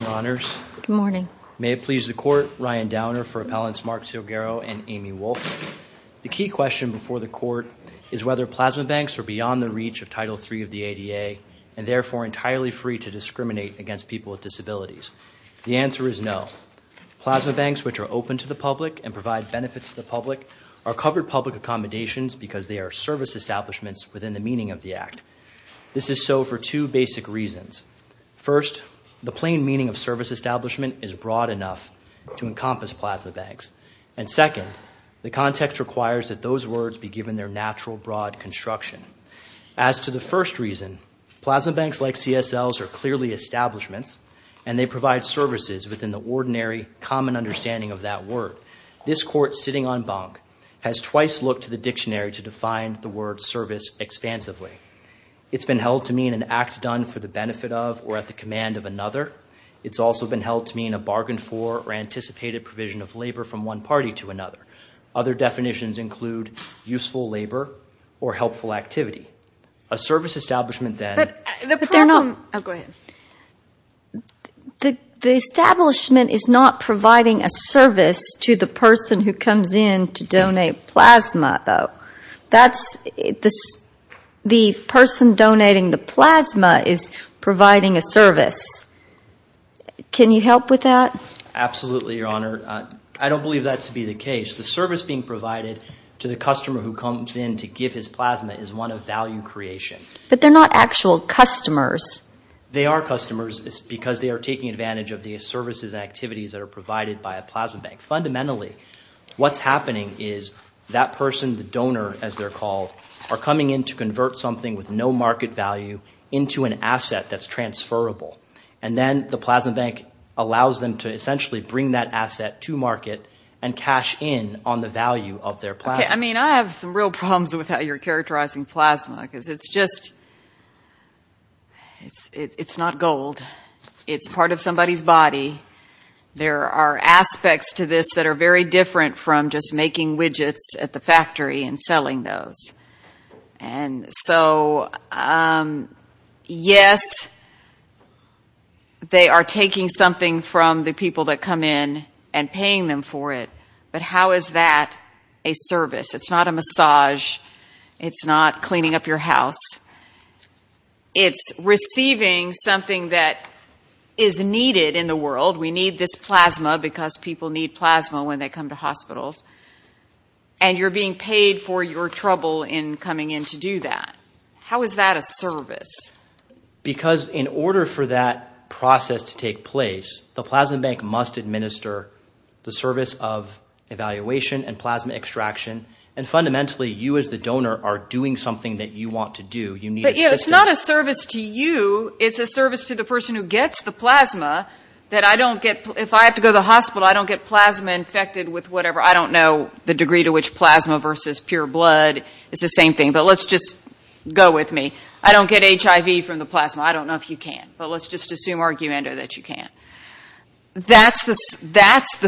Good morning. May it please the Court, Ryan Downer for Appellants Mark Silguero and Amy Wolfe. The key question before the Court is whether plasma banks are beyond the reach of Title III of the ADA and therefore entirely free to discriminate against people with disabilities. The answer is no. Plasma banks, which are open to the public and provide benefits to the public, are covered public accommodations because they are service establishments within the meaning of the Act. This is so for two basic reasons. First, the plain meaning of service establishment is broad enough to encompass plasma banks. And second, the context requires that those words be given their natural, broad construction. As to the first reason, plasma banks like CSLs are clearly establishments and they provide services within the ordinary, common understanding of that word. This Court, sitting en banc, has twice looked to the dictionary to define the word service expansively. It's been held to mean an act done for the benefit of or at the command of another. It's also been held to mean a bargain for or anticipated provision of labor from one party to another. Other definitions include useful labor or helpful activity. A service establishment, then— But they're not—oh, go ahead. The establishment is not providing a service to the person who comes in to donate plasma, though. The person donating the plasma is providing a service. Can you help with that? Absolutely, Your Honor. I don't believe that to be the case. The service being provided to the customer who comes in to give his plasma is one of value creation. But they're not actual customers. They are customers because they are taking advantage of the services and activities that are provided by a plasma bank. Fundamentally, what's happening is that person, the donor, as they're called, are coming in to convert something with no market value into an asset that's transferable. And then the plasma bank allows them to essentially bring that asset to market and cash in on the value of their plasma. Okay, I mean, I have some real problems with how you're characterizing plasma because it's just— There are aspects to this that are very different from just making widgets at the factory and selling those. And so, yes, they are taking something from the people that come in and paying them for it. But how is that a service? It's not a massage. It's not cleaning up your house. It's receiving something that is needed in the world. We need this plasma because people need plasma when they come to hospitals. And you're being paid for your trouble in coming in to do that. How is that a service? Because in order for that process to take place, the plasma bank must administer the service of evaluation and plasma extraction. And fundamentally, you as the donor are doing something that you want to do. But it's not a service to you. It's a service to the person who gets the plasma that I don't get— If I have to go to the hospital, I don't get plasma infected with whatever. I don't know the degree to which plasma versus pure blood is the same thing. But let's just go with me. I don't get HIV from the plasma. I don't know if you can. But let's just assume, arguendo, that you can. That's the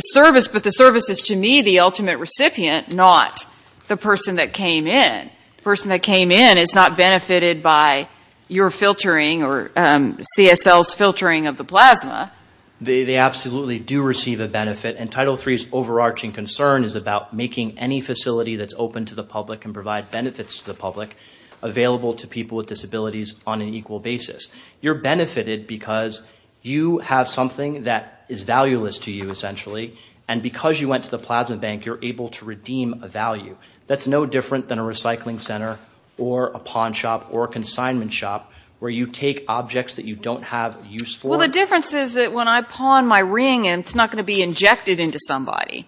service. But the service is, to me, the ultimate recipient, not the person that came in. The person that came in is not benefited by your filtering or CSL's filtering of the plasma. They absolutely do receive a benefit. And Title III's overarching concern is about making any facility that's open to the public and provide benefits to the public available to people with disabilities on an equal basis. You're benefited because you have something that is valueless to you, essentially. And because you went to the plasma bank, you're able to redeem a value. That's no different than a recycling center or a pawn shop or a consignment shop where you take objects that you don't have use for. Well, the difference is that when I pawn my ring, it's not going to be injected into somebody.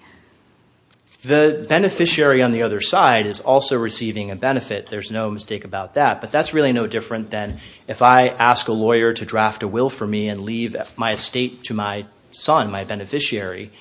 The beneficiary on the other side is also receiving a benefit. There's no mistake about that. But that's really no different than if I ask a lawyer to draft a will for me and leave my estate to my son, my beneficiary,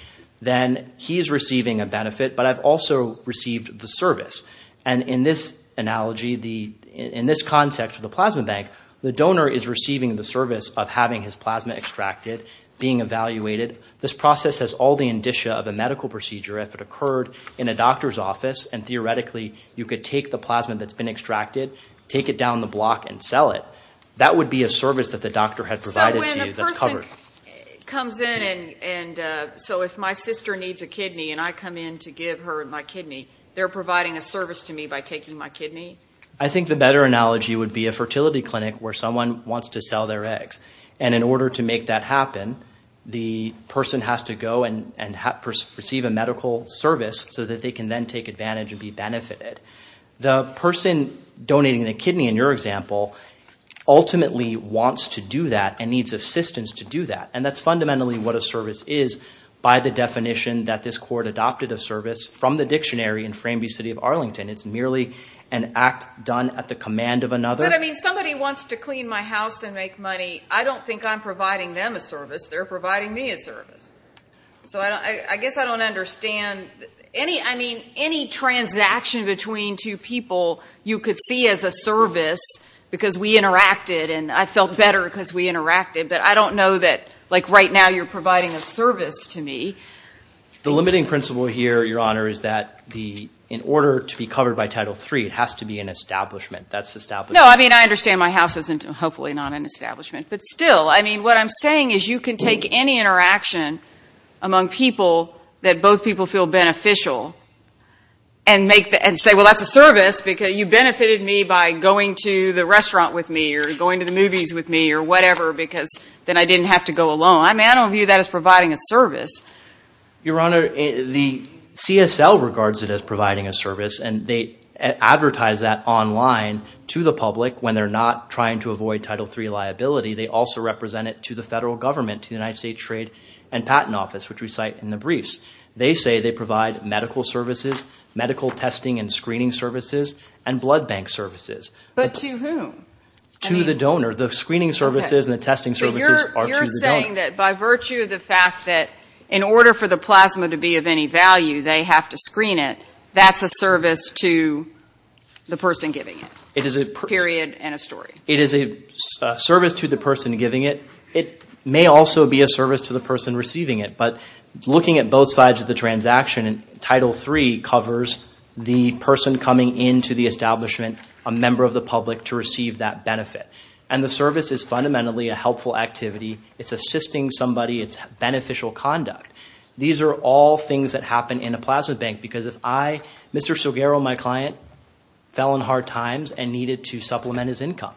then he's receiving a benefit, but I've also received the service. And in this analogy, in this context of the plasma bank, the donor is receiving the service of having his plasma extracted, being evaluated. This process has all the indicia of a medical procedure. If it occurred in a doctor's office and, theoretically, you could take the plasma that's been extracted, take it down the block, and sell it, that would be a service that the doctor had provided to you that's covered. So when the person comes in and so if my sister needs a kidney and I come in to give her my kidney, they're providing a service to me by taking my kidney? I think the better analogy would be a fertility clinic where someone wants to sell their eggs. And in order to make that happen, the person has to go and receive a medical service so that they can then take advantage and be benefited. The person donating the kidney in your example ultimately wants to do that and needs assistance to do that, and that's fundamentally what a service is by the definition that this court adopted a service from the dictionary in Frambee City of Arlington. It's merely an act done at the command of another. But, I mean, somebody wants to clean my house and make money. I don't think I'm providing them a service. They're providing me a service. So I guess I don't understand. I mean, any transaction between two people you could see as a service because we interacted and I felt better because we interacted, but I don't know that like right now you're providing a service to me. The limiting principle here, Your Honor, is that in order to be covered by Title III, it has to be an establishment. No, I mean, I understand my house isn't hopefully not an establishment. But still, I mean, what I'm saying is you can take any interaction among people that both people feel beneficial and say, well, that's a service because you benefited me by going to the restaurant with me or going to the movies with me or whatever because then I didn't have to go alone. I mean, I don't view that as providing a service. Your Honor, the CSL regards it as providing a service, and they advertise that online to the public when they're not trying to avoid Title III liability. They also represent it to the federal government, to the United States Trade and Patent Office, which we cite in the briefs. They say they provide medical services, medical testing and screening services, and blood bank services. But to whom? To the donor. The screening services and the testing services are to the donor. So you're saying that by virtue of the fact that in order for the plasma to be of any value, they have to screen it, that's a service to the person giving it, period and a story. It is a service to the person giving it. It may also be a service to the person receiving it. But looking at both sides of the transaction, Title III covers the person coming into the establishment, a member of the public, to receive that benefit. And the service is fundamentally a helpful activity. It's assisting somebody. It's beneficial conduct. These are all things that happen in a plasma bank because if I, Mr. Soguero, my client, fell on hard times and needed to supplement his income,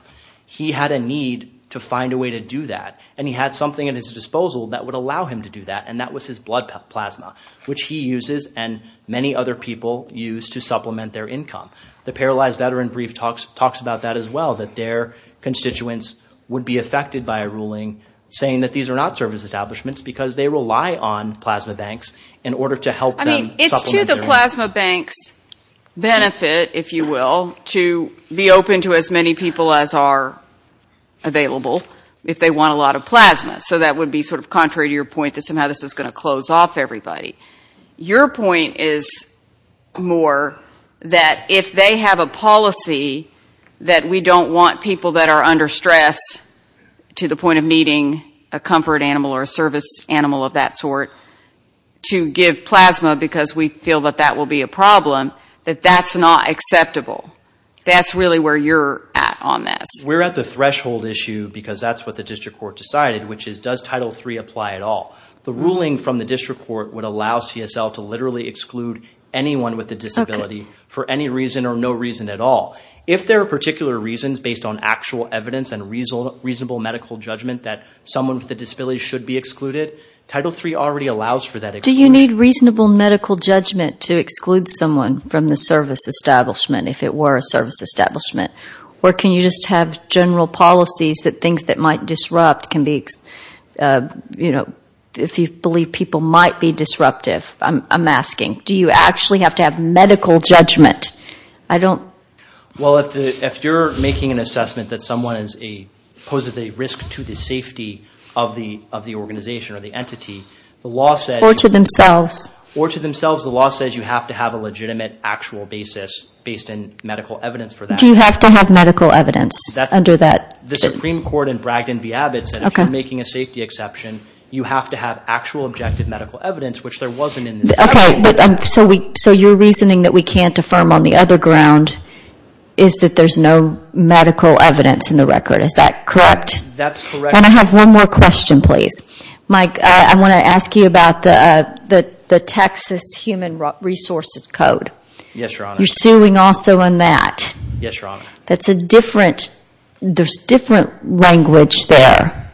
he had a need to find a way to do that, and he had something at his disposal that would allow him to do that, and that was his blood plasma, which he uses and many other people use to supplement their income. The paralyzed veteran brief talks about that as well, that their constituents would be affected by a ruling saying that these are not service establishments because they rely on plasma banks in order to help them supplement their income. I mean, it's to the plasma bank's benefit, if you will, to be open to as many people as are available if they want a lot of plasma. So that would be sort of contrary to your point that somehow this is going to close off everybody. Your point is more that if they have a policy that we don't want people that are under stress to the point of needing a comfort animal or a service animal of that sort to give plasma because we feel that that will be a problem, that that's not acceptable. That's really where you're at on this. We're at the threshold issue because that's what the district court decided, which is does Title III apply at all? The ruling from the district court would allow CSL to literally exclude anyone with a disability for any reason or no reason at all. If there are particular reasons based on actual evidence and reasonable medical judgment that someone with a disability should be excluded, Title III already allows for that exclusion. Do you need reasonable medical judgment to exclude someone from the service establishment if it were a service establishment? Or can you just have general policies that things that might disrupt can be, if you believe people might be disruptive, I'm asking. Do you actually have to have medical judgment? Well, if you're making an assessment that someone poses a risk to the safety of the organization or the entity, the law says you have to have a legitimate actual basis based on medical evidence for that. Do you have to have medical evidence under that? The Supreme Court in Bragdon v. Abbott said if you're making a safety exception, you have to have actual objective medical evidence, which there wasn't in the statute. Okay, so your reasoning that we can't affirm on the other ground is that there's no medical evidence in the record, is that correct? That's correct. And I have one more question, please. Mike, I want to ask you about the Texas Human Resources Code. Yes, Your Honor. You're suing also on that. Yes, Your Honor. That's a different, there's different language there.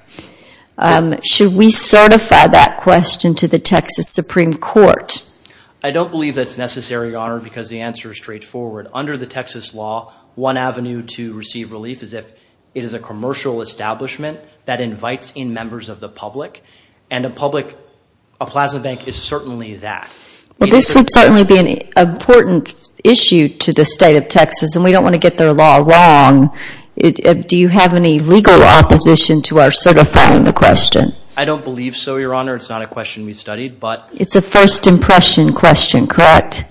Should we certify that question to the Texas Supreme Court? I don't believe that's necessary, Your Honor, because the answer is straightforward. Under the Texas law, one avenue to receive relief is if it is a commercial establishment that invites in members of the public, and a plasma bank is certainly that. Well, this would certainly be an important issue to the state of Texas, and we don't want to get their law wrong. Do you have any legal opposition to our certifying the question? I don't believe so, Your Honor. It's not a question we've studied, but. It's a first impression question, correct?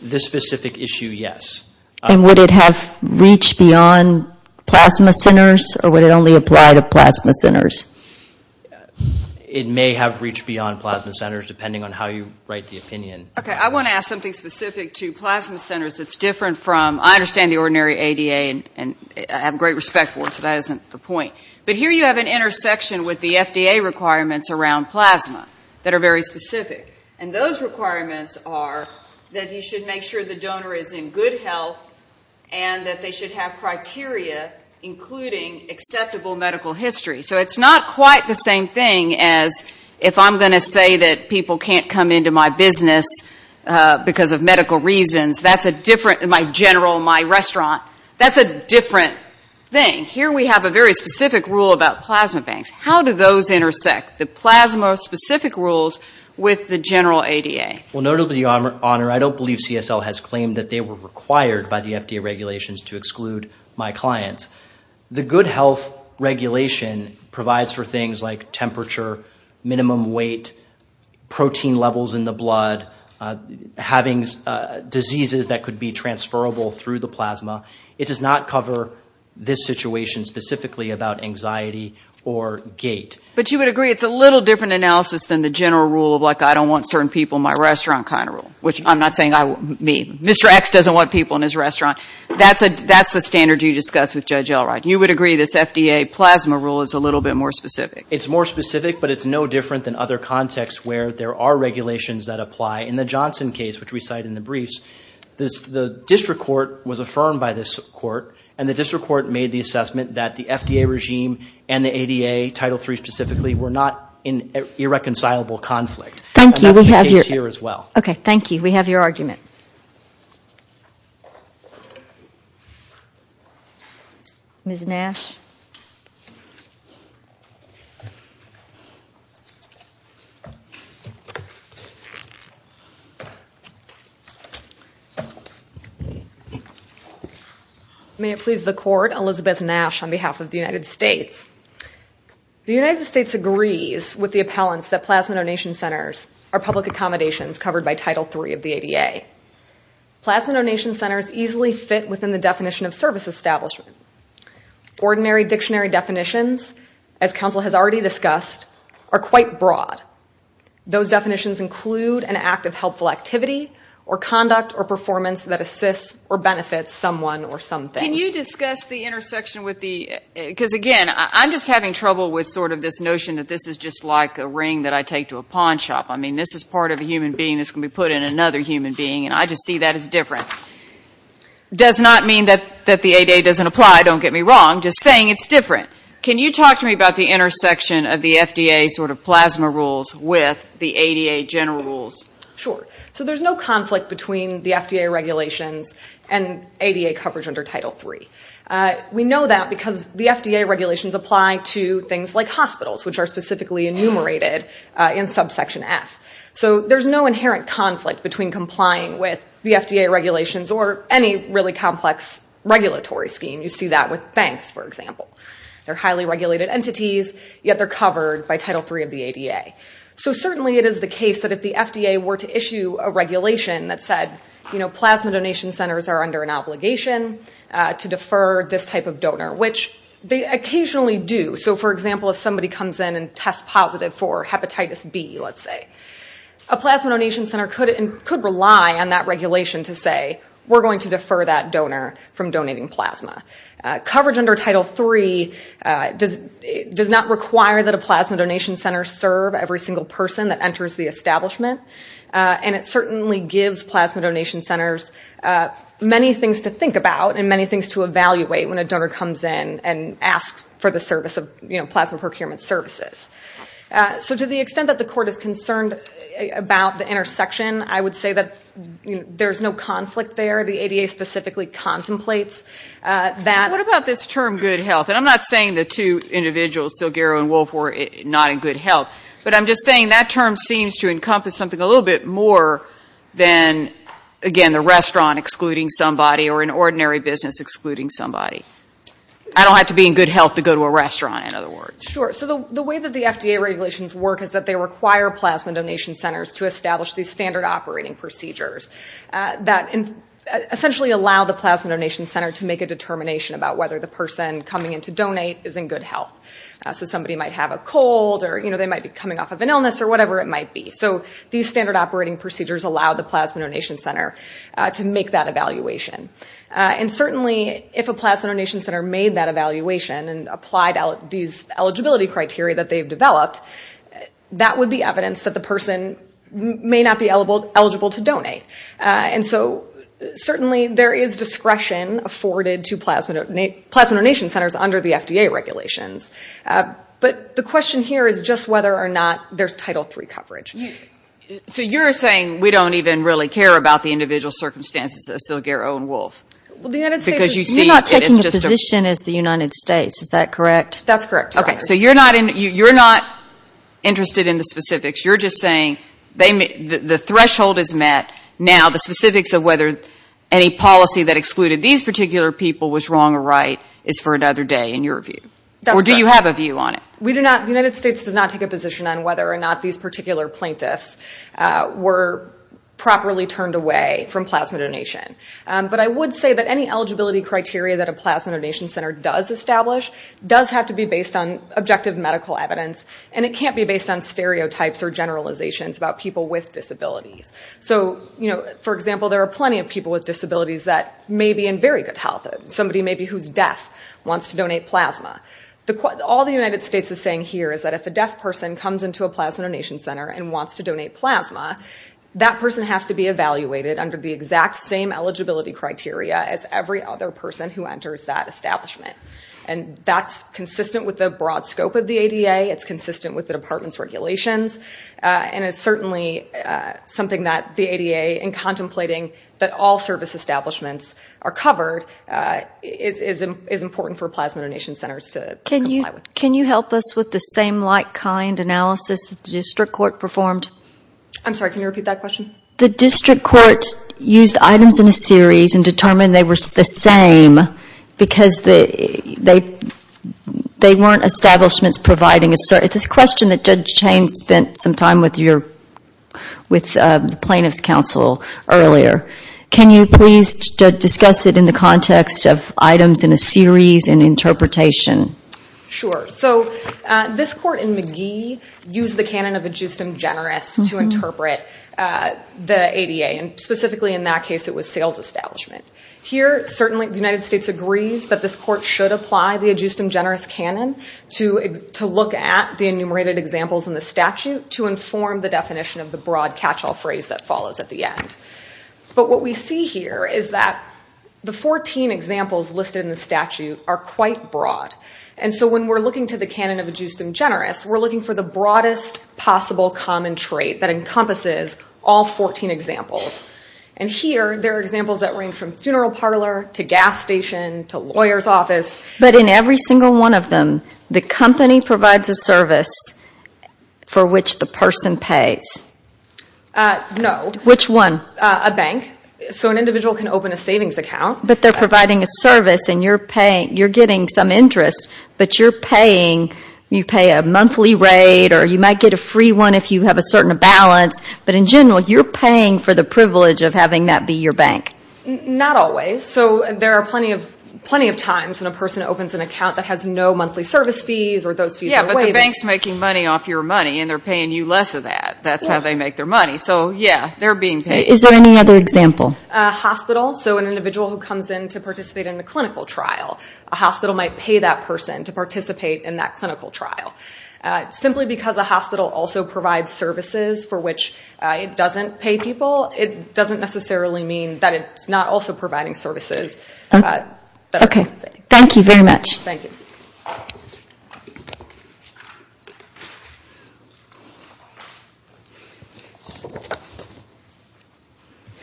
This specific issue, yes. And would it have reached beyond plasma centers, or would it only apply to plasma centers? It may have reached beyond plasma centers, depending on how you write the opinion. Okay, I want to ask something specific to plasma centers. It's different from, I understand the ordinary ADA, and I have great respect for it, so that isn't the point. But here you have an intersection with the FDA requirements around plasma that are very specific. And those requirements are that you should make sure the donor is in good health and that they should have criteria including acceptable medical history. So it's not quite the same thing as if I'm going to say that people can't come into my business because of medical reasons, that's a different, my general, my restaurant, that's a different thing. Here we have a very specific rule about plasma banks. How do those intersect, the plasma-specific rules, with the general ADA? Well, notably, Your Honor, I don't believe CSL has claimed that they were required by the FDA regulations to exclude my clients. The good health regulation provides for things like temperature, minimum weight, protein levels in the blood, having diseases that could be transferable through the plasma. It does not cover this situation specifically about anxiety or gait. But you would agree it's a little different analysis than the general rule of, like, I don't want certain people in my restaurant kind of rule, which I'm not saying I mean. Mr. X doesn't want people in his restaurant. That's the standard you discussed with Judge Elright. You would agree this FDA plasma rule is a little bit more specific? It's more specific, but it's no different than other contexts where there are regulations that apply. In the Johnson case, which we cite in the briefs, the district court was affirmed by this court, and the district court made the assessment that the FDA regime and the ADA, Title III specifically, were not in irreconcilable conflict. Thank you. And that's the case here as well. Okay, thank you. We have your argument. Ms. Nash. May it please the Court, Elizabeth Nash on behalf of the United States. The United States agrees with the appellants that plasma donation centers are public accommodations covered by Title III of the ADA. Plasma donation centers easily fit within the definition of service establishment. Ordinary dictionary definitions, as counsel has already discussed, are quite broad. Those definitions include an act of helpful activity or conduct or performance that assists or benefits someone or something. Can you discuss the intersection with the – because, again, I'm just having trouble with sort of this notion that this is just like a ring that I take to a pawn shop. I mean, this is part of a human being that's going to be put in another human being, and I just see that as different. It does not mean that the ADA doesn't apply, don't get me wrong, just saying it's different. Can you talk to me about the intersection of the FDA sort of plasma rules with the ADA general rules? Sure. So there's no conflict between the FDA regulations and ADA coverage under Title III. We know that because the FDA regulations apply to things like hospitals, which are specifically enumerated in Subsection F. So there's no inherent conflict between complying with the FDA regulations or any really complex regulatory scheme. You see that with banks, for example. They're highly regulated entities, yet they're covered by Title III of the ADA. So certainly it is the case that if the FDA were to issue a regulation that said, you know, plasma donation centers are under an obligation to defer this type of donor, which they occasionally do. So, for example, if somebody comes in and tests positive for hepatitis B, let's say, a plasma donation center could rely on that regulation to say, we're going to defer that donor from donating plasma. Coverage under Title III does not require that a plasma donation center serve every single person that enters the establishment, and it certainly gives plasma donation centers many things to think about and many things to evaluate when a donor comes in and asks for the service of, you know, plasma procurement services. So to the extent that the court is concerned about the intersection, I would say that there's no conflict there. The ADA specifically contemplates that. What about this term good health? And I'm not saying the two individuals, Silgaro and Wolff, were not in good health, but I'm just saying that term seems to encompass something a little bit more than, again, the restaurant excluding somebody or an ordinary business excluding somebody. I don't have to be in good health to go to a restaurant, in other words. Sure. So the way that the FDA regulations work is that they require plasma donation centers to establish these standard operating procedures that essentially allow the plasma donation center to make a determination about whether the person coming in to donate is in good health. So somebody might have a cold or, you know, they might be coming off of an illness or whatever it might be. So these standard operating procedures allow the plasma donation center to make that evaluation. And certainly if a plasma donation center made that evaluation and applied these eligibility criteria that they've developed, that would be evidence that the person may not be eligible to donate. And so certainly there is discretion afforded to plasma donation centers under the FDA regulations. But the question here is just whether or not there's Title III coverage. So you're saying we don't even really care about the individual circumstances of Silgaro and Wolff? Because you see it as just a ---- You're not taking a position as the United States, is that correct? That's correct. Okay. So you're not interested in the specifics. You're just saying the threshold is met. Now the specifics of whether any policy that excluded these particular people was wrong or right is for another day in your view. That's correct. Or do you have a view on it? We do not. The United States does not take a position on whether or not these particular plaintiffs were properly turned away from plasma donation. But I would say that any eligibility criteria that a plasma donation center does establish does have to be based on objective medical evidence. And it can't be based on stereotypes or generalizations about people with disabilities. So, for example, there are plenty of people with disabilities that may be in very good health. Somebody maybe who's deaf wants to donate plasma. All the United States is saying here is that if a deaf person comes into a plasma donation center and wants to donate plasma, that person has to be evaluated under the exact same eligibility criteria as every other person who enters that establishment. And that's consistent with the broad scope of the ADA. It's consistent with the department's regulations. And it's certainly something that the ADA, in contemplating that all service establishments are covered, is important for plasma donation centers to comply with. Can you help us with the same like-kind analysis that the district court performed? I'm sorry. Can you repeat that question? The district court used items in a series and determined they were the same because they weren't establishments providing a service. It's a question that Judge Chain spent some time with the plaintiff's counsel earlier. Can you please discuss it in the context of items in a series and interpretation? Sure. So this court in McGee used the canon of ad justem generis to interpret the ADA. And specifically in that case, it was sales establishment. Here, certainly, the United States agrees that this court should apply the ad justem generis canon to look at the enumerated examples in the statute to inform the definition of the broad catch-all phrase that follows at the end. But what we see here is that the 14 examples listed in the statute are quite broad. And so when we're looking to the canon of ad justem generis, we're looking for the broadest possible common trait that encompasses all 14 examples. And here, there are examples that range from funeral parlor to gas station to lawyer's office. But in every single one of them, the company provides a service for which the person pays. No. Which one? A bank. So an individual can open a savings account. But they're providing a service, and you're getting some interest, but you're paying. You pay a monthly rate, or you might get a free one if you have a certain balance. But in general, you're paying for the privilege of having that be your bank. Not always. So there are plenty of times when a person opens an account that has no monthly service fees or those fees are waived. Yeah, but the bank's making money off your money, and they're paying you less of that. That's how they make their money. So, yeah, they're being paid. Is there any other example? A hospital. So an individual who comes in to participate in a clinical trial. A hospital might pay that person to participate in that clinical trial. Simply because a hospital also provides services for which it doesn't pay people, it doesn't necessarily mean that it's not also providing services. Okay. Thank you very much. Thank you.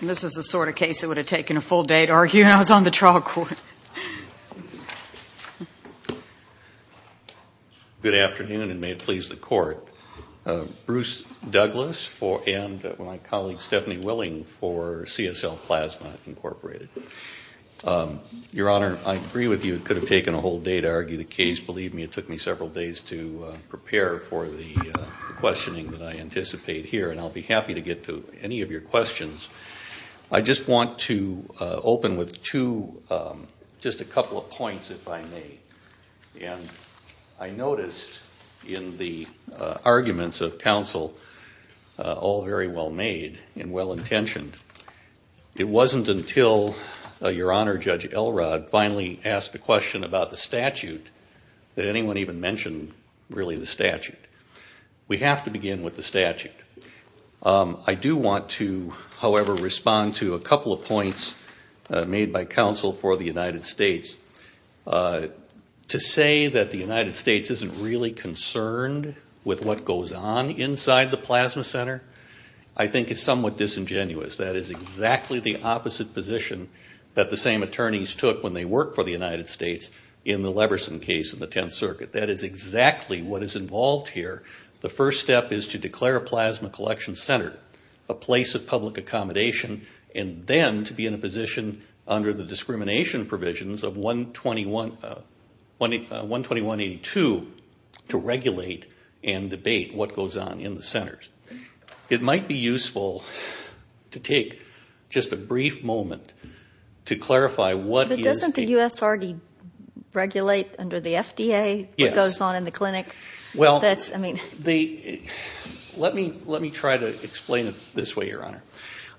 This is the sort of case that would have taken a full day to argue, and I was on the trial court. Good afternoon, and may it please the court. Bruce Douglas and my colleague Stephanie Willing for CSL Plasma Incorporated. Your Honor, I agree with you, it could have taken a whole day to argue the case. Believe me, it took me several days to prepare for the questioning that I anticipate here, and I'll be happy to get to any of your questions. I just want to open with two, just a couple of points, if I may. And I noticed in the arguments of counsel, all very well made and well intentioned. It wasn't until Your Honor Judge Elrod finally asked the question about the statute that anyone even mentioned really the statute. We have to begin with the statute. I do want to, however, respond to a couple of points made by counsel for the United States. To say that the United States isn't really concerned with what goes on inside the plasma center, I think is somewhat disingenuous. That is exactly the opposite position that the same attorneys took when they worked for the United States in the Leverson case in the Tenth Circuit. That is exactly what is involved here. The first step is to declare a plasma collection center a place of public accommodation and then to be in a position under the discrimination provisions of 121-82 to regulate and debate what goes on in the centers. It might be useful to take just a brief moment to clarify what is the- But doesn't the U.S. already regulate under the FDA what goes on in the clinic? Well, let me try to explain it this way, Your Honor.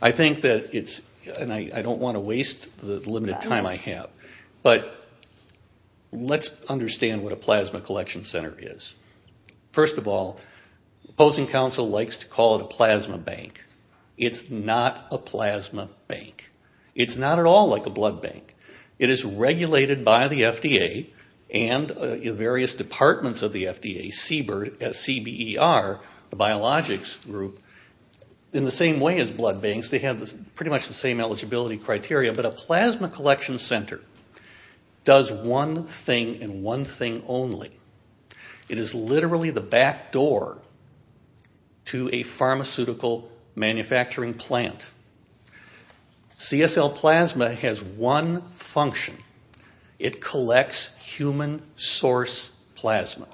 I think that it's-and I don't want to waste the limited time I have, but let's understand what a plasma collection center is. First of all, opposing counsel likes to call it a plasma bank. It's not a plasma bank. It's not at all like a blood bank. It is regulated by the FDA and various departments of the FDA, CBER, the biologics group. In the same way as blood banks, they have pretty much the same eligibility criteria, but a plasma collection center does one thing and one thing only. It is literally the back door to a pharmaceutical manufacturing plant. CSL plasma has one function. It collects human source plasma.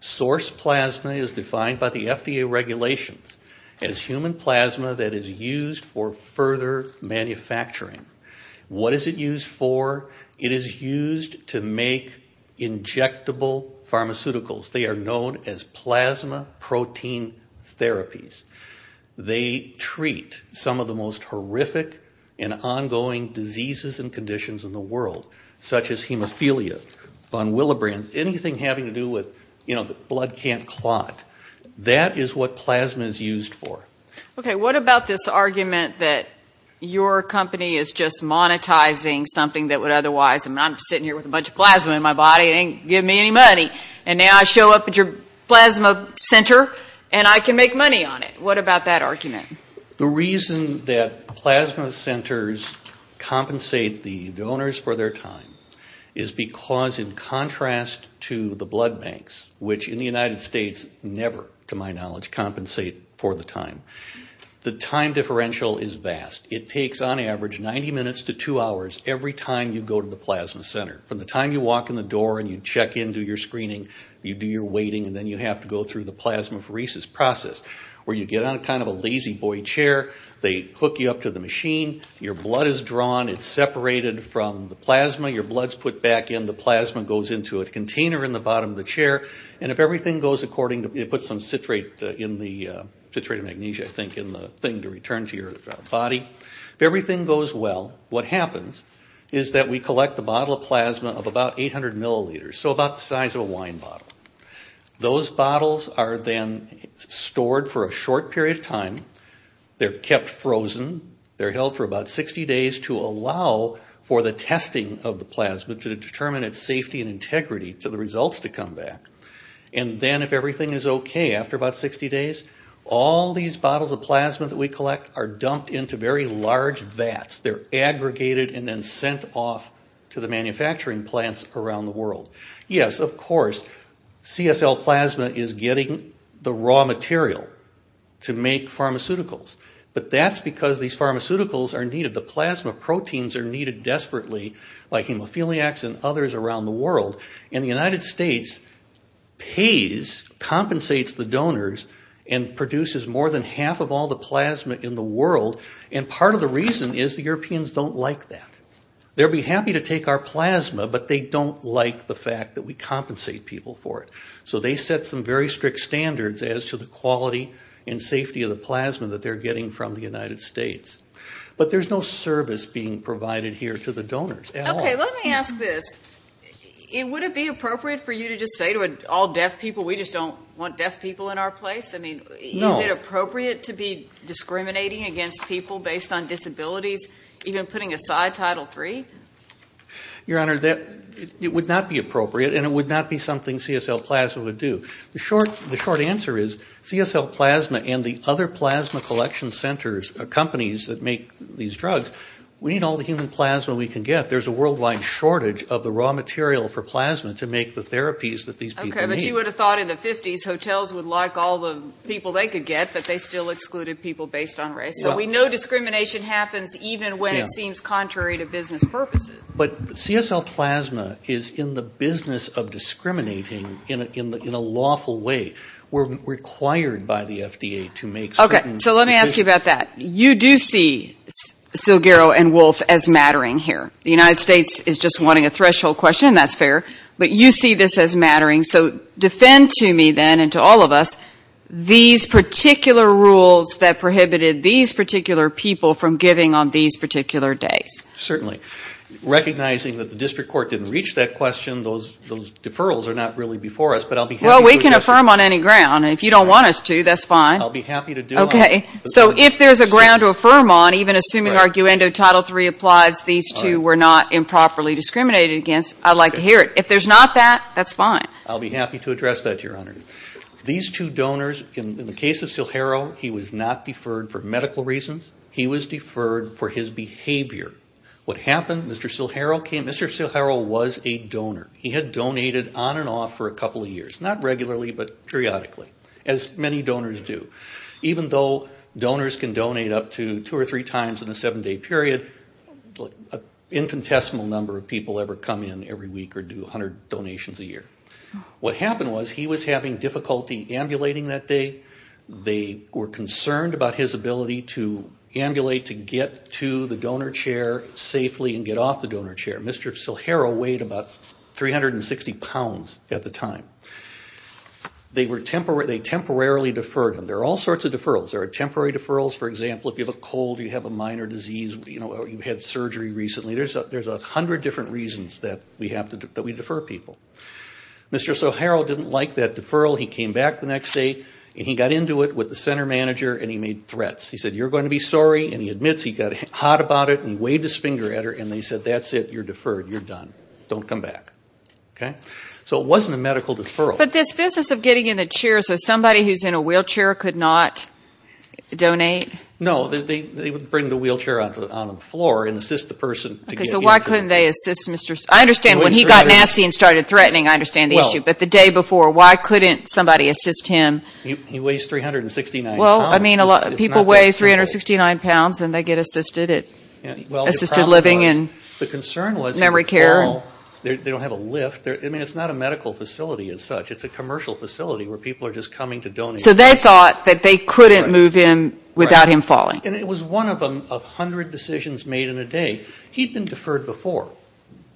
Source plasma is defined by the FDA regulations as human plasma that is used for further manufacturing. What is it used for? It is used to make injectable pharmaceuticals. They are known as plasma protein therapies. They treat some of the most horrific and ongoing diseases and conditions in the world, such as hemophilia, von Willebrand, anything having to do with, you know, the blood can't clot. That is what plasma is used for. Okay, what about this argument that your company is just monetizing something that would otherwise- I mean, I'm sitting here with a bunch of plasma in my body. It ain't giving me any money. And now I show up at your plasma center and I can make money on it. What about that argument? The reason that plasma centers compensate the donors for their time is because, in contrast to the blood banks, which in the United States never, to my knowledge, compensate for the time, the time differential is vast. It takes, on average, 90 minutes to two hours every time you go to the plasma center. From the time you walk in the door and you check in, do your screening, you do your waiting, and then you have to go through the plasmapheresis process, where you get on kind of a lazy boy chair. They hook you up to the machine. Your blood is drawn. It's separated from the plasma. Your blood's put back in. The plasma goes into a container in the bottom of the chair. And if everything goes according to- it puts some citrate in the- citrate and magnesia, I think, in the thing to return to your body. If everything goes well, what happens is that we collect a bottle of plasma of about 800 milliliters, so about the size of a wine bottle. Those bottles are then stored for a short period of time. They're kept frozen. They're held for about 60 days to allow for the testing of the plasma to determine its safety and integrity to the results to come back. And then if everything is okay after about 60 days, all these bottles of plasma that we collect are dumped into very large vats. They're aggregated and then sent off to the manufacturing plants around the world. Yes, of course, CSL plasma is getting the raw material to make pharmaceuticals, but that's because these pharmaceuticals are needed. The plasma proteins are needed desperately by hemophiliacs and others around the world. And the United States pays, compensates the donors and produces more than half of all the plasma in the world, and part of the reason is the Europeans don't like that. They'll be happy to take our plasma, but they don't like the fact that we compensate people for it. So they set some very strict standards as to the quality and safety of the plasma that they're getting from the United States. Okay, let me ask this. Would it be appropriate for you to just say to all deaf people, we just don't want deaf people in our place? I mean, is it appropriate to be discriminating against people based on disabilities, even putting aside Title III? Your Honor, it would not be appropriate, and it would not be something CSL plasma would do. The short answer is CSL plasma and the other plasma collection centers, companies that make these drugs, we need all the human plasma we can get. There's a worldwide shortage of the raw material for plasma to make the therapies that these people need. Okay, but you would have thought in the 50s hotels would like all the people they could get, but they still excluded people based on race. So we know discrimination happens even when it seems contrary to business purposes. But CSL plasma is in the business of discriminating in a lawful way. We're required by the FDA to make certain... Okay, so let me ask you about that. You do see Silguero and Wolfe as mattering here. The United States is just wanting a threshold question, and that's fair. But you see this as mattering. So defend to me then and to all of us these particular rules that prohibited these particular people from giving on these particular days. Certainly. Recognizing that the district court didn't reach that question, those deferrals are not really before us, but I'll be happy to do them. Well, we can affirm on any ground. I'll be happy to do them. Okay. So if there's a ground to affirm on, even assuming Arguendo Title III applies, these two were not improperly discriminated against, I'd like to hear it. If there's not that, that's fine. I'll be happy to address that, Your Honor. These two donors, in the case of Silguero, he was not deferred for medical reasons. He was deferred for his behavior. What happened, Mr. Silguero was a donor. He had donated on and off for a couple of years. Not regularly, but periodically, as many donors do. Even though donors can donate up to two or three times in a seven-day period, an infinitesimal number of people ever come in every week or do 100 donations a year. What happened was he was having difficulty ambulating that day. They were concerned about his ability to ambulate to get to the donor chair safely and get off the donor chair. Mr. Silguero weighed about 360 pounds at the time. They temporarily deferred him. There are all sorts of deferrals. There are temporary deferrals. For example, if you have a cold, you have a minor disease, or you've had surgery recently, there's a hundred different reasons that we defer people. Mr. Silguero didn't like that deferral. He came back the next day, and he got into it with the center manager, and he made threats. He said, you're going to be sorry, and he admits he got hot about it, and he waved his finger at her, and they said, that's it, you're deferred, you're done. Don't come back. So it wasn't a medical deferral. But this business of getting in the chair so somebody who's in a wheelchair could not donate? No. They would bring the wheelchair onto the floor and assist the person to get into it. So why couldn't they assist Mr. Silguero? I understand when he got nasty and started threatening, I understand the issue. But the day before, why couldn't somebody assist him? He weighs 369 pounds. Well, I mean, people weigh 369 pounds, and they get assisted living in memory care. The concern was before, they don't have a lift. I mean, it's not a medical facility as such. It's a commercial facility where people are just coming to donate. So they thought that they couldn't move in without him falling. And it was one of a hundred decisions made in a day. He'd been deferred before.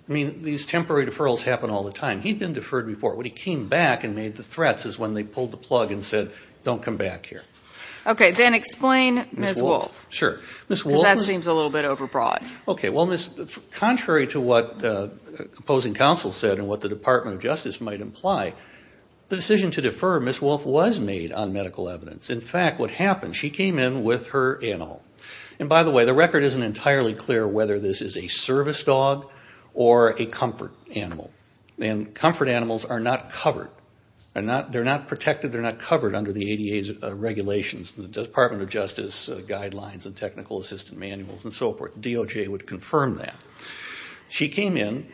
I mean, these temporary deferrals happen all the time. He'd been deferred before. When he came back and made the threats is when they pulled the plug and said, don't come back here. Okay. Then explain Ms. Wolfe. Sure. Because that seems a little bit overbroad. Okay. Well, contrary to what opposing counsel said and what the Department of Justice might imply, the decision to defer Ms. Wolfe was made on medical evidence. In fact, what happened, she came in with her animal. And by the way, the record isn't entirely clear whether this is a service dog or a comfort animal. And comfort animals are not covered. They're not protected. They're not covered under the ADA's regulations, the Department of Justice guidelines and technical assistant manuals and so forth. DOJ would confirm that. She came in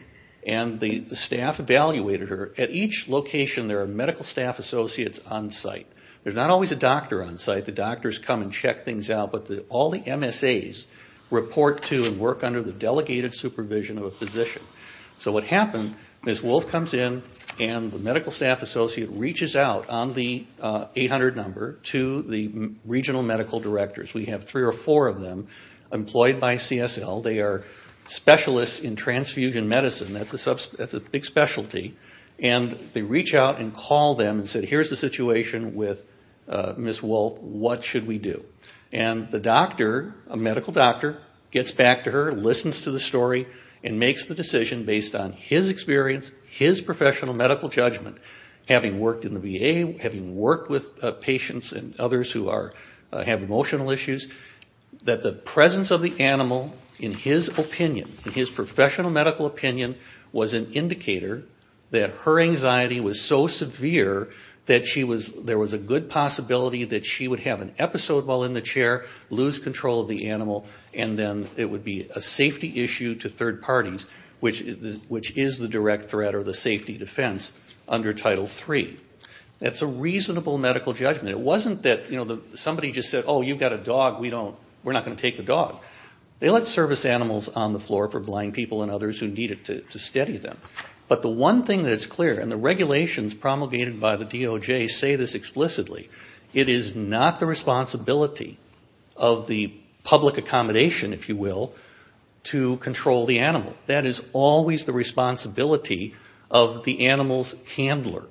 and the staff evaluated her. At each location there are medical staff associates on site. There's not always a doctor on site. The doctors come and check things out. But all the MSAs report to and work under the delegated supervision of a physician. So what happened, Ms. Wolfe comes in and the medical staff associate reaches out on the 800 number to the regional medical directors. We have three or four of them employed by CSL. They are specialists in transfusion medicine. That's a big specialty. And they reach out and call them and say, here's the situation with Ms. Wolfe. What should we do? And the doctor, a medical doctor, gets back to her, listens to the story, and makes the decision based on his experience, his professional medical judgment, having worked in the VA, having worked with patients and others who have emotional issues, that the presence of the animal in his opinion, in his professional medical opinion, was an indicator that her anxiety was so severe that there was a good possibility that she would have an episode while in the chair, lose control of the animal, and then it would be a safety issue to third parties, which is the direct threat or the safety defense under Title III. That's a reasonable medical judgment. It wasn't that somebody just said, oh, you've got a dog, we're not going to take the dog. They let service animals on the floor for blind people and others who needed to steady them. But the one thing that's clear, and the regulations promulgated by the DOJ say this explicitly, it is not the responsibility of the public accommodation, if you will, to control the animal. That is always the responsibility of the animal's handler.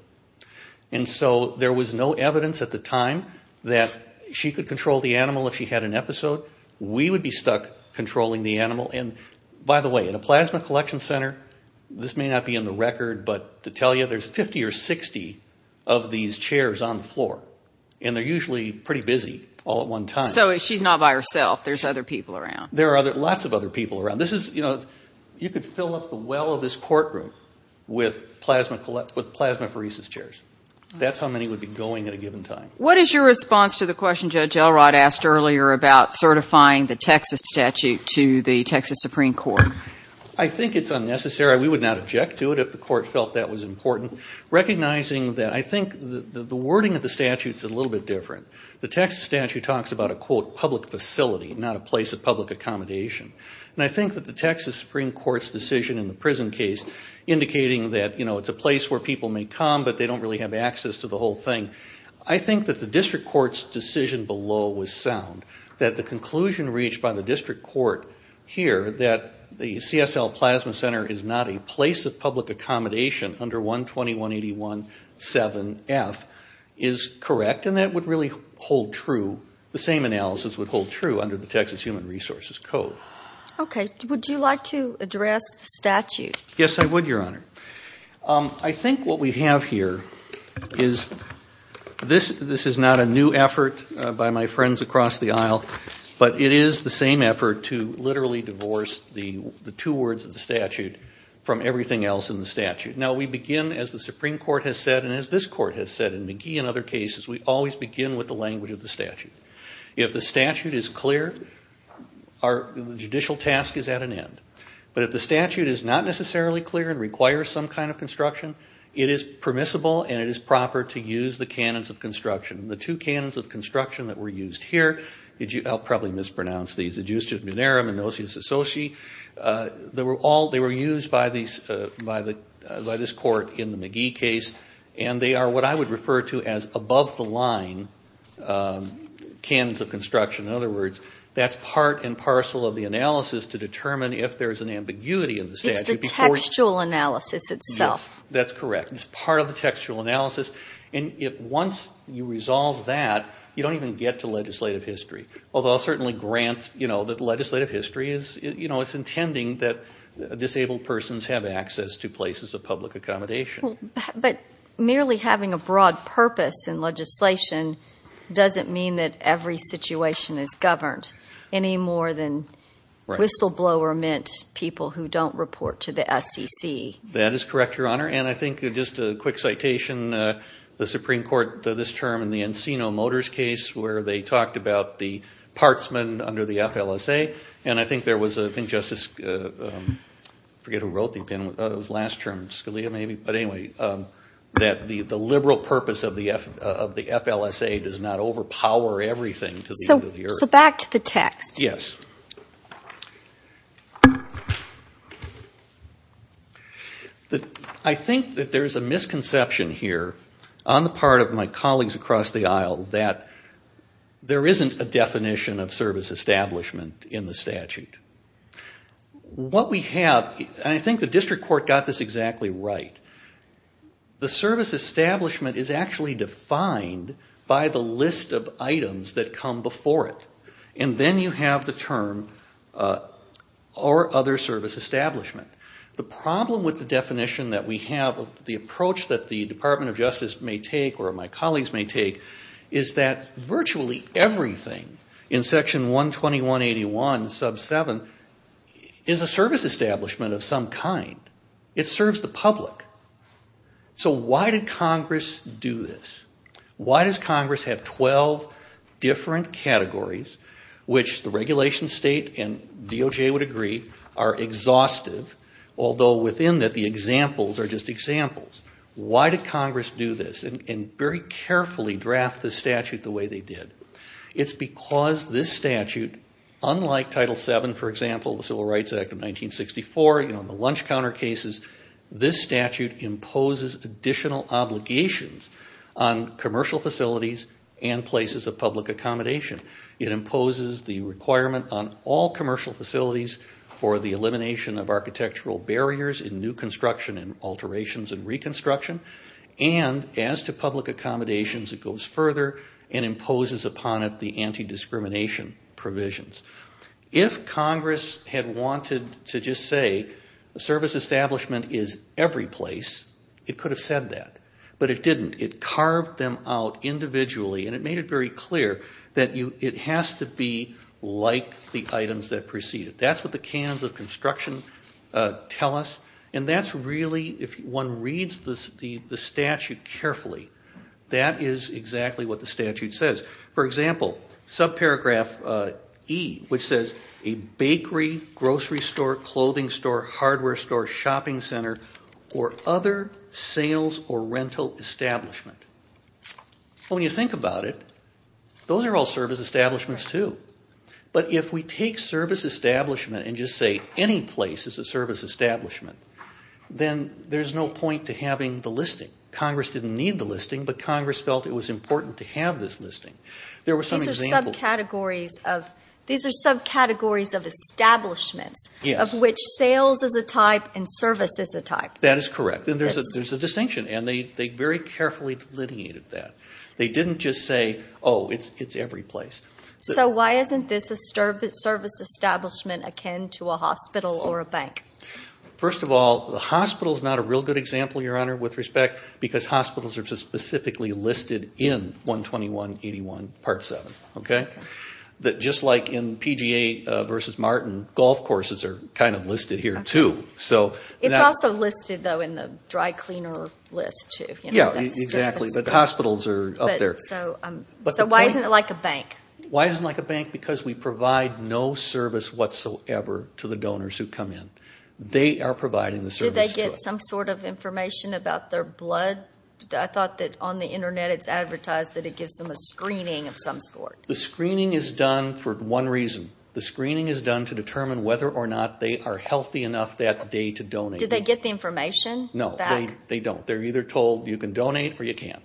And so there was no evidence at the time that she could control the animal if she had an episode. We would be stuck controlling the animal. And by the way, in a plasma collection center, this may not be in the record, but to tell you, there's 50 or 60 of these chairs on the floor. And they're usually pretty busy all at one time. So she's not by herself. There's other people around. There are lots of other people around. You could fill up the well of this courtroom with plasmapheresis chairs. That's how many would be going at a given time. What is your response to the question Judge Elrod asked earlier about certifying the Texas statute to the Texas Supreme Court? I think it's unnecessary. We would not object to it if the court felt that was important. Recognizing that I think the wording of the statute is a little bit different. The Texas statute talks about a, quote, public facility, not a place of public accommodation. And I think that the Texas Supreme Court's decision in the prison case, indicating that, you know, it's a place where people may come, but they don't really have access to the whole thing. I think that the district court's decision below was sound. That the conclusion reached by the district court here that the CSL plasma center is not a place of public accommodation under 120.181.7.F is correct. And that would really hold true. The same analysis would hold true under the Texas Human Resources Code. Okay. Would you like to address the statute? Yes, I would, Your Honor. I think what we have here is this is not a new effort by my friends across the aisle, but it is the same effort to literally divorce the two words of the statute from everything else in the statute. Now, we begin, as the Supreme Court has said, and as this court has said, in McGee and other cases, we always begin with the language of the statute. If the statute is clear, our judicial task is at an end. But if the statute is not necessarily clear and requires some kind of construction, it is permissible and it is proper to use the canons of construction. The two canons of construction that were used here, I'll probably mispronounce these, adjustus minerum and nocius associ. They were used by this court in the McGee case, and they are what I would refer to as above the line canons of construction. In other words, that's part and parcel of the analysis to determine if there's an ambiguity in the statute. It's the textual analysis itself. Yes, that's correct. It's part of the textual analysis. And once you resolve that, you don't even get to legislative history, although I'll certainly grant that legislative history is intending that disabled persons have access to places of public accommodation. But merely having a broad purpose in legislation doesn't mean that every situation is governed, any more than whistleblower meant people who don't report to the SEC. That is correct, Your Honor. And I think just a quick citation, the Supreme Court this term in the Encino Motors case where they talked about the partsmen under the FLSA, and I think there was, I think Justice, I forget who wrote the opinion, it was last term, Scalia maybe, but anyway, that the liberal purpose of the FLSA does not overpower everything to the end of the earth. So back to the text. Yes. I think that there's a misconception here on the part of my colleagues across the aisle that there isn't a definition of service establishment in the statute. What we have, and I think the district court got this exactly right, the service establishment is actually defined by the list of items that come before it. And then you have the term or other service establishment. The problem with the definition that we have, the approach that the Department of Justice may take or my colleagues may take, is that virtually everything in section 12181 sub 7 is a service establishment of some kind. It serves the public. So why did Congress do this? Why does Congress have 12 different categories, which the regulation state and DOJ would agree are exhaustive, although within that the examples are just examples. Why did Congress do this and very carefully draft the statute the way they did? It's because this statute, unlike Title VII, for example, the Civil Rights Act of 1964, you know, the lunch counter cases, this statute imposes additional obligations on commercial facilities and places of public accommodation. It imposes the requirement on all commercial facilities for the elimination of architectural barriers in new construction and alterations and reconstruction. And as to public accommodations, it goes further and imposes upon it the anti-discrimination provisions. If Congress had wanted to just say a service establishment is every place, it could have said that. But it didn't. It carved them out individually, and it made it very clear that it has to be like the items that precede it. That's what the canons of construction tell us. And that's really, if one reads the statute carefully, that is exactly what the statute says. For example, subparagraph E, which says, a bakery, grocery store, clothing store, hardware store, shopping center, or other sales or rental establishment. When you think about it, those are all service establishments too. But if we take service establishment and just say any place is a service establishment, then there's no point to having the listing. Congress didn't need the listing, but Congress felt it was important to have this listing. There were some examples. These are subcategories of establishments, of which sales is a type and service is a type. That is correct. And there's a distinction, and they very carefully delineated that. They didn't just say, oh, it's every place. So why isn't this a service establishment akin to a hospital or a bank? First of all, the hospital is not a real good example, Your Honor, with respect, because hospitals are specifically listed in 121-81, Part 7. Just like in PGA v. Martin, golf courses are kind of listed here too. It's also listed, though, in the dry cleaner list too. Yeah, exactly. But hospitals are up there. So why isn't it like a bank? Why isn't it like a bank? Because we provide no service whatsoever to the donors who come in. They are providing the service to us. Did they get some sort of information about their blood? I thought that on the Internet it's advertised that it gives them a screening of some sort. The screening is done for one reason. The screening is done to determine whether or not they are healthy enough that day to donate. Do they get the information back? No, they don't. They're either told you can donate or you can't.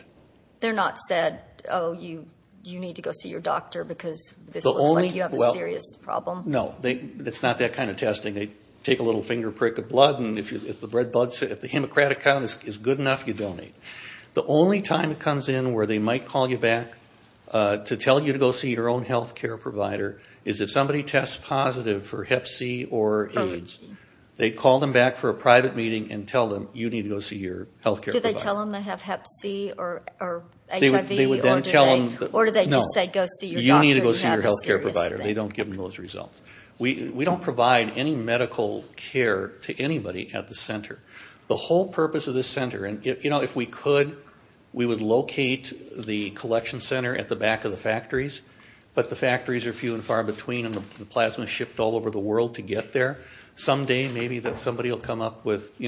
They're not said, oh, you need to go see your doctor because this looks like you have a serious problem? No, it's not that kind of testing. They take a little finger prick of blood, and if the hemocratic count is good enough, you donate. The only time it comes in where they might call you back to tell you to go see your own health care provider is if somebody tests positive for hep C or AIDS. They call them back for a private meeting and tell them you need to go see your health care provider. Do they tell them they have hep C or HIV, or do they just say go see your doctor? No, you need to go see your health care provider. They don't give them those results. We don't provide any medical care to anybody at the center. The whole purpose of this center, and if we could, we would locate the collection center at the back of the factories, but the factories are few and far between, and the plasma is shipped all over the world to get there. Someday maybe somebody will come up with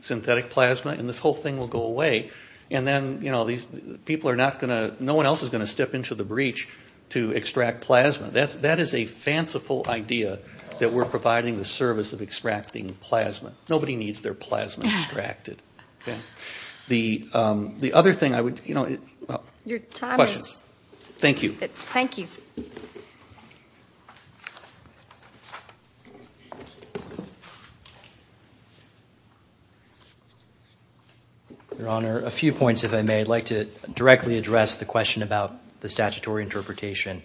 synthetic plasma, and this whole thing will go away, and then no one else is going to step into the breach to extract plasma. That is a fanciful idea that we're providing the service of extracting plasma. Nobody needs their plasma extracted. The other thing I would, you know, questions. Your time is up. Thank you. Thank you. Your Honor, a few points if I may. I'd like to directly address the question about the statutory interpretation.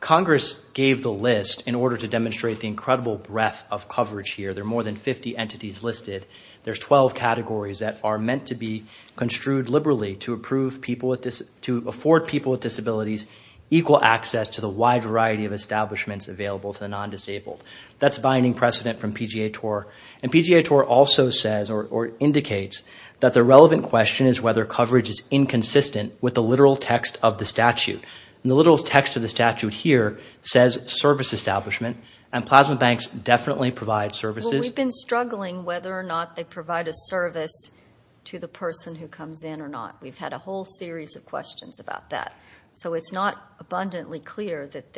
Congress gave the list in order to demonstrate the incredible breadth of coverage here. There are more than 50 entities listed. There's 12 categories that are meant to be construed liberally to approve people with, to afford people with disabilities equal access to the wide variety of establishments available to the non-disabled. That's binding precedent from PGA TOR, and PGA TOR also says, or indicates that the relevant question is whether coverage is inconsistent with the literal text of the statute. The literal text of the statute here says service establishment, and plasma banks definitely provide services. Well, we've been struggling whether or not they provide a service to the person who comes in or not. We've had a whole series of questions about that. So it's not abundantly clear that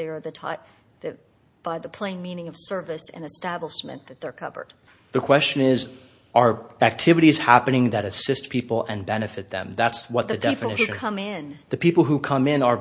by the plain meaning of service and establishment that they're covered. The question is, are activities happening that assist people and benefit them? That's what the definition. The people who come in. The people who come in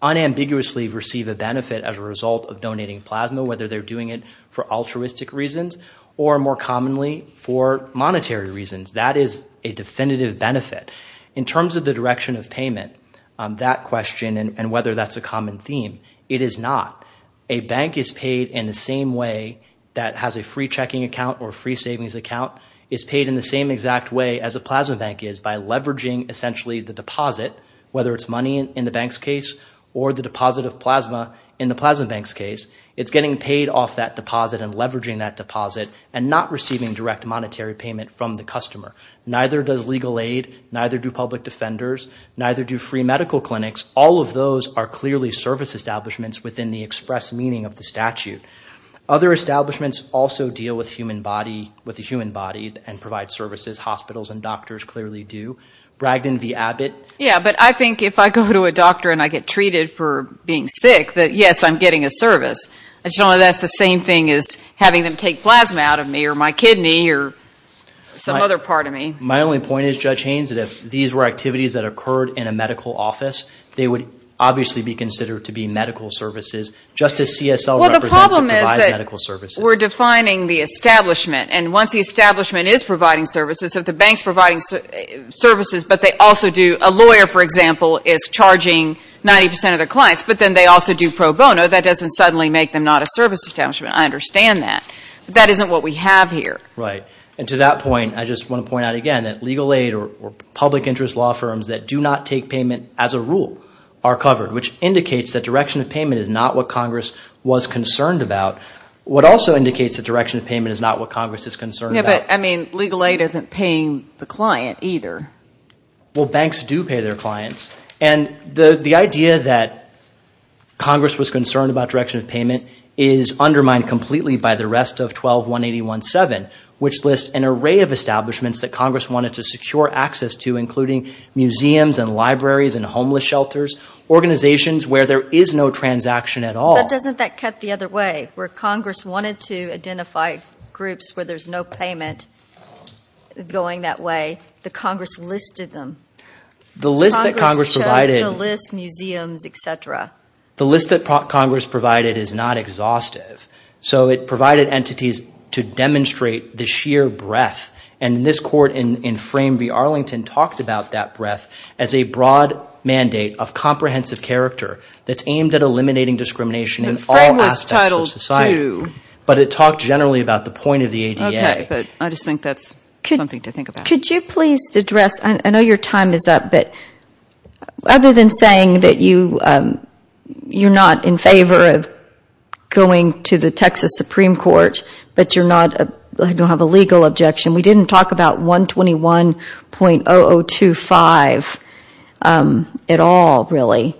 unambiguously receive a benefit as a result of donating plasma, whether they're doing it for altruistic reasons or more commonly for monetary reasons. That is a definitive benefit. In terms of the direction of payment, that question and whether that's a common theme, it is not. A bank is paid in the same way that has a free checking account or a free savings account. It's paid in the same exact way as a plasma bank is by leveraging essentially the deposit, whether it's money in the bank's case or the deposit of plasma in the plasma bank's case. It's getting paid off that deposit and leveraging that deposit and not receiving direct monetary payment from the customer. Neither does legal aid. Neither do public defenders. Neither do free medical clinics. All of those are clearly service establishments within the express meaning of the statute. Other establishments also deal with the human body and provide services. Hospitals and doctors clearly do. Bragdon v. Abbott. Yeah, but I think if I go to a doctor and I get treated for being sick that, yes, I'm getting a service. That's the same thing as having them take plasma out of me or my kidney or some other part of me. My only point is, Judge Haynes, that if these were activities that occurred in a medical office, they would obviously be considered to be medical services just as CSL represents and provides medical services. Well, the problem is that we're defining the establishment. And once the establishment is providing services, if the bank's providing services but they also do, a lawyer, for example, is charging 90 percent of their clients but then they also do pro bono, that doesn't suddenly make them not a service establishment. I understand that. But that isn't what we have here. Right. And to that point, I just want to point out again that legal aid or public interest law firms that do not take payment as a rule are covered, which indicates that direction of payment is not what Congress was concerned about. What also indicates that direction of payment is not what Congress is concerned about. Yeah, but, I mean, legal aid isn't paying the client either. Well, banks do pay their clients. And the idea that Congress was concerned about direction of payment is undermined completely by the rest of 12-181-7, which lists an array of establishments that Congress wanted to secure access to, including museums and libraries and homeless shelters, organizations where there is no transaction at all. But doesn't that cut the other way, where Congress wanted to identify groups where there is no payment going that way, the Congress listed them. The list that Congress provided. Congress chose to list museums, et cetera. The list that Congress provided is not exhaustive. So it provided entities to demonstrate the sheer breadth, and this court in Frame v. Arlington talked about that breadth as a broad mandate of comprehensive character that's aimed at eliminating discrimination in all aspects of society. But it talked generally about the point of the ADA. Okay, but I just think that's something to think about. Could you please address, I know your time is up, but other than saying that you're not in favor of going to the Texas Supreme Court, but you don't have a legal objection, we didn't talk about 121.0025 at all, really.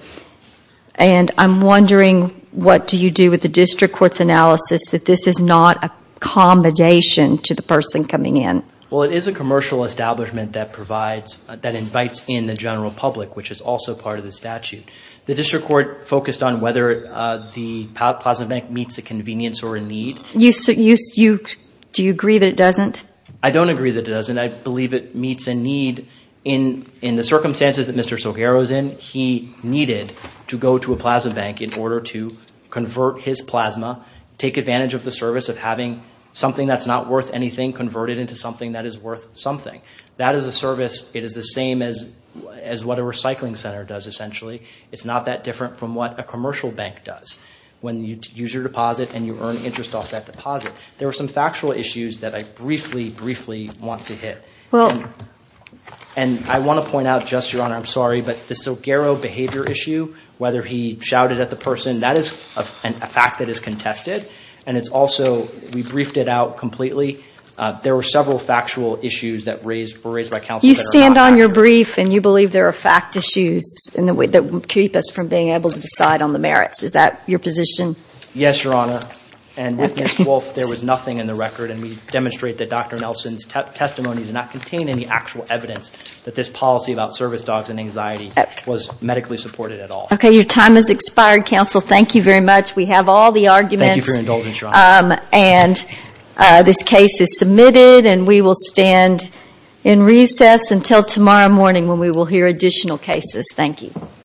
And I'm wondering what do you do with the district court's analysis that this is not a combination to the person coming in? Well, it is a commercial establishment that invites in the general public, which is also part of the statute. The district court focused on whether the Plasma Bank meets the convenience or a need. Do you agree that it doesn't? I don't agree that it doesn't. I believe it meets a need. In the circumstances that Mr. Soguero is in, he needed to go to a plasma bank in order to convert his plasma, take advantage of the service of having something that's not worth anything converted into something that is worth something. That is a service, it is the same as what a recycling center does, essentially. It's not that different from what a commercial bank does. When you use your deposit and you earn interest off that deposit. There are some factual issues that I briefly, briefly want to hit. And I want to point out just, Your Honor, I'm sorry, but the Soguero behavior issue, whether he shouted at the person, that is a fact that is contested. And it's also, we briefed it out completely. There were several factual issues that were raised by counsel. You stand on your brief and you believe there are fact issues that keep us from being able to decide on the merits. Is that your position? Yes, Your Honor. And with Ms. Wolfe, there was nothing in the record. And we demonstrate that Dr. Nelson's testimony did not contain any actual evidence that this policy about service dogs and anxiety was medically supported at all. Okay, your time has expired, counsel. Thank you very much. We have all the arguments. Thank you for your indulgence, Your Honor. And this case is submitted and we will stand in recess until tomorrow morning when we will hear additional cases. Thank you.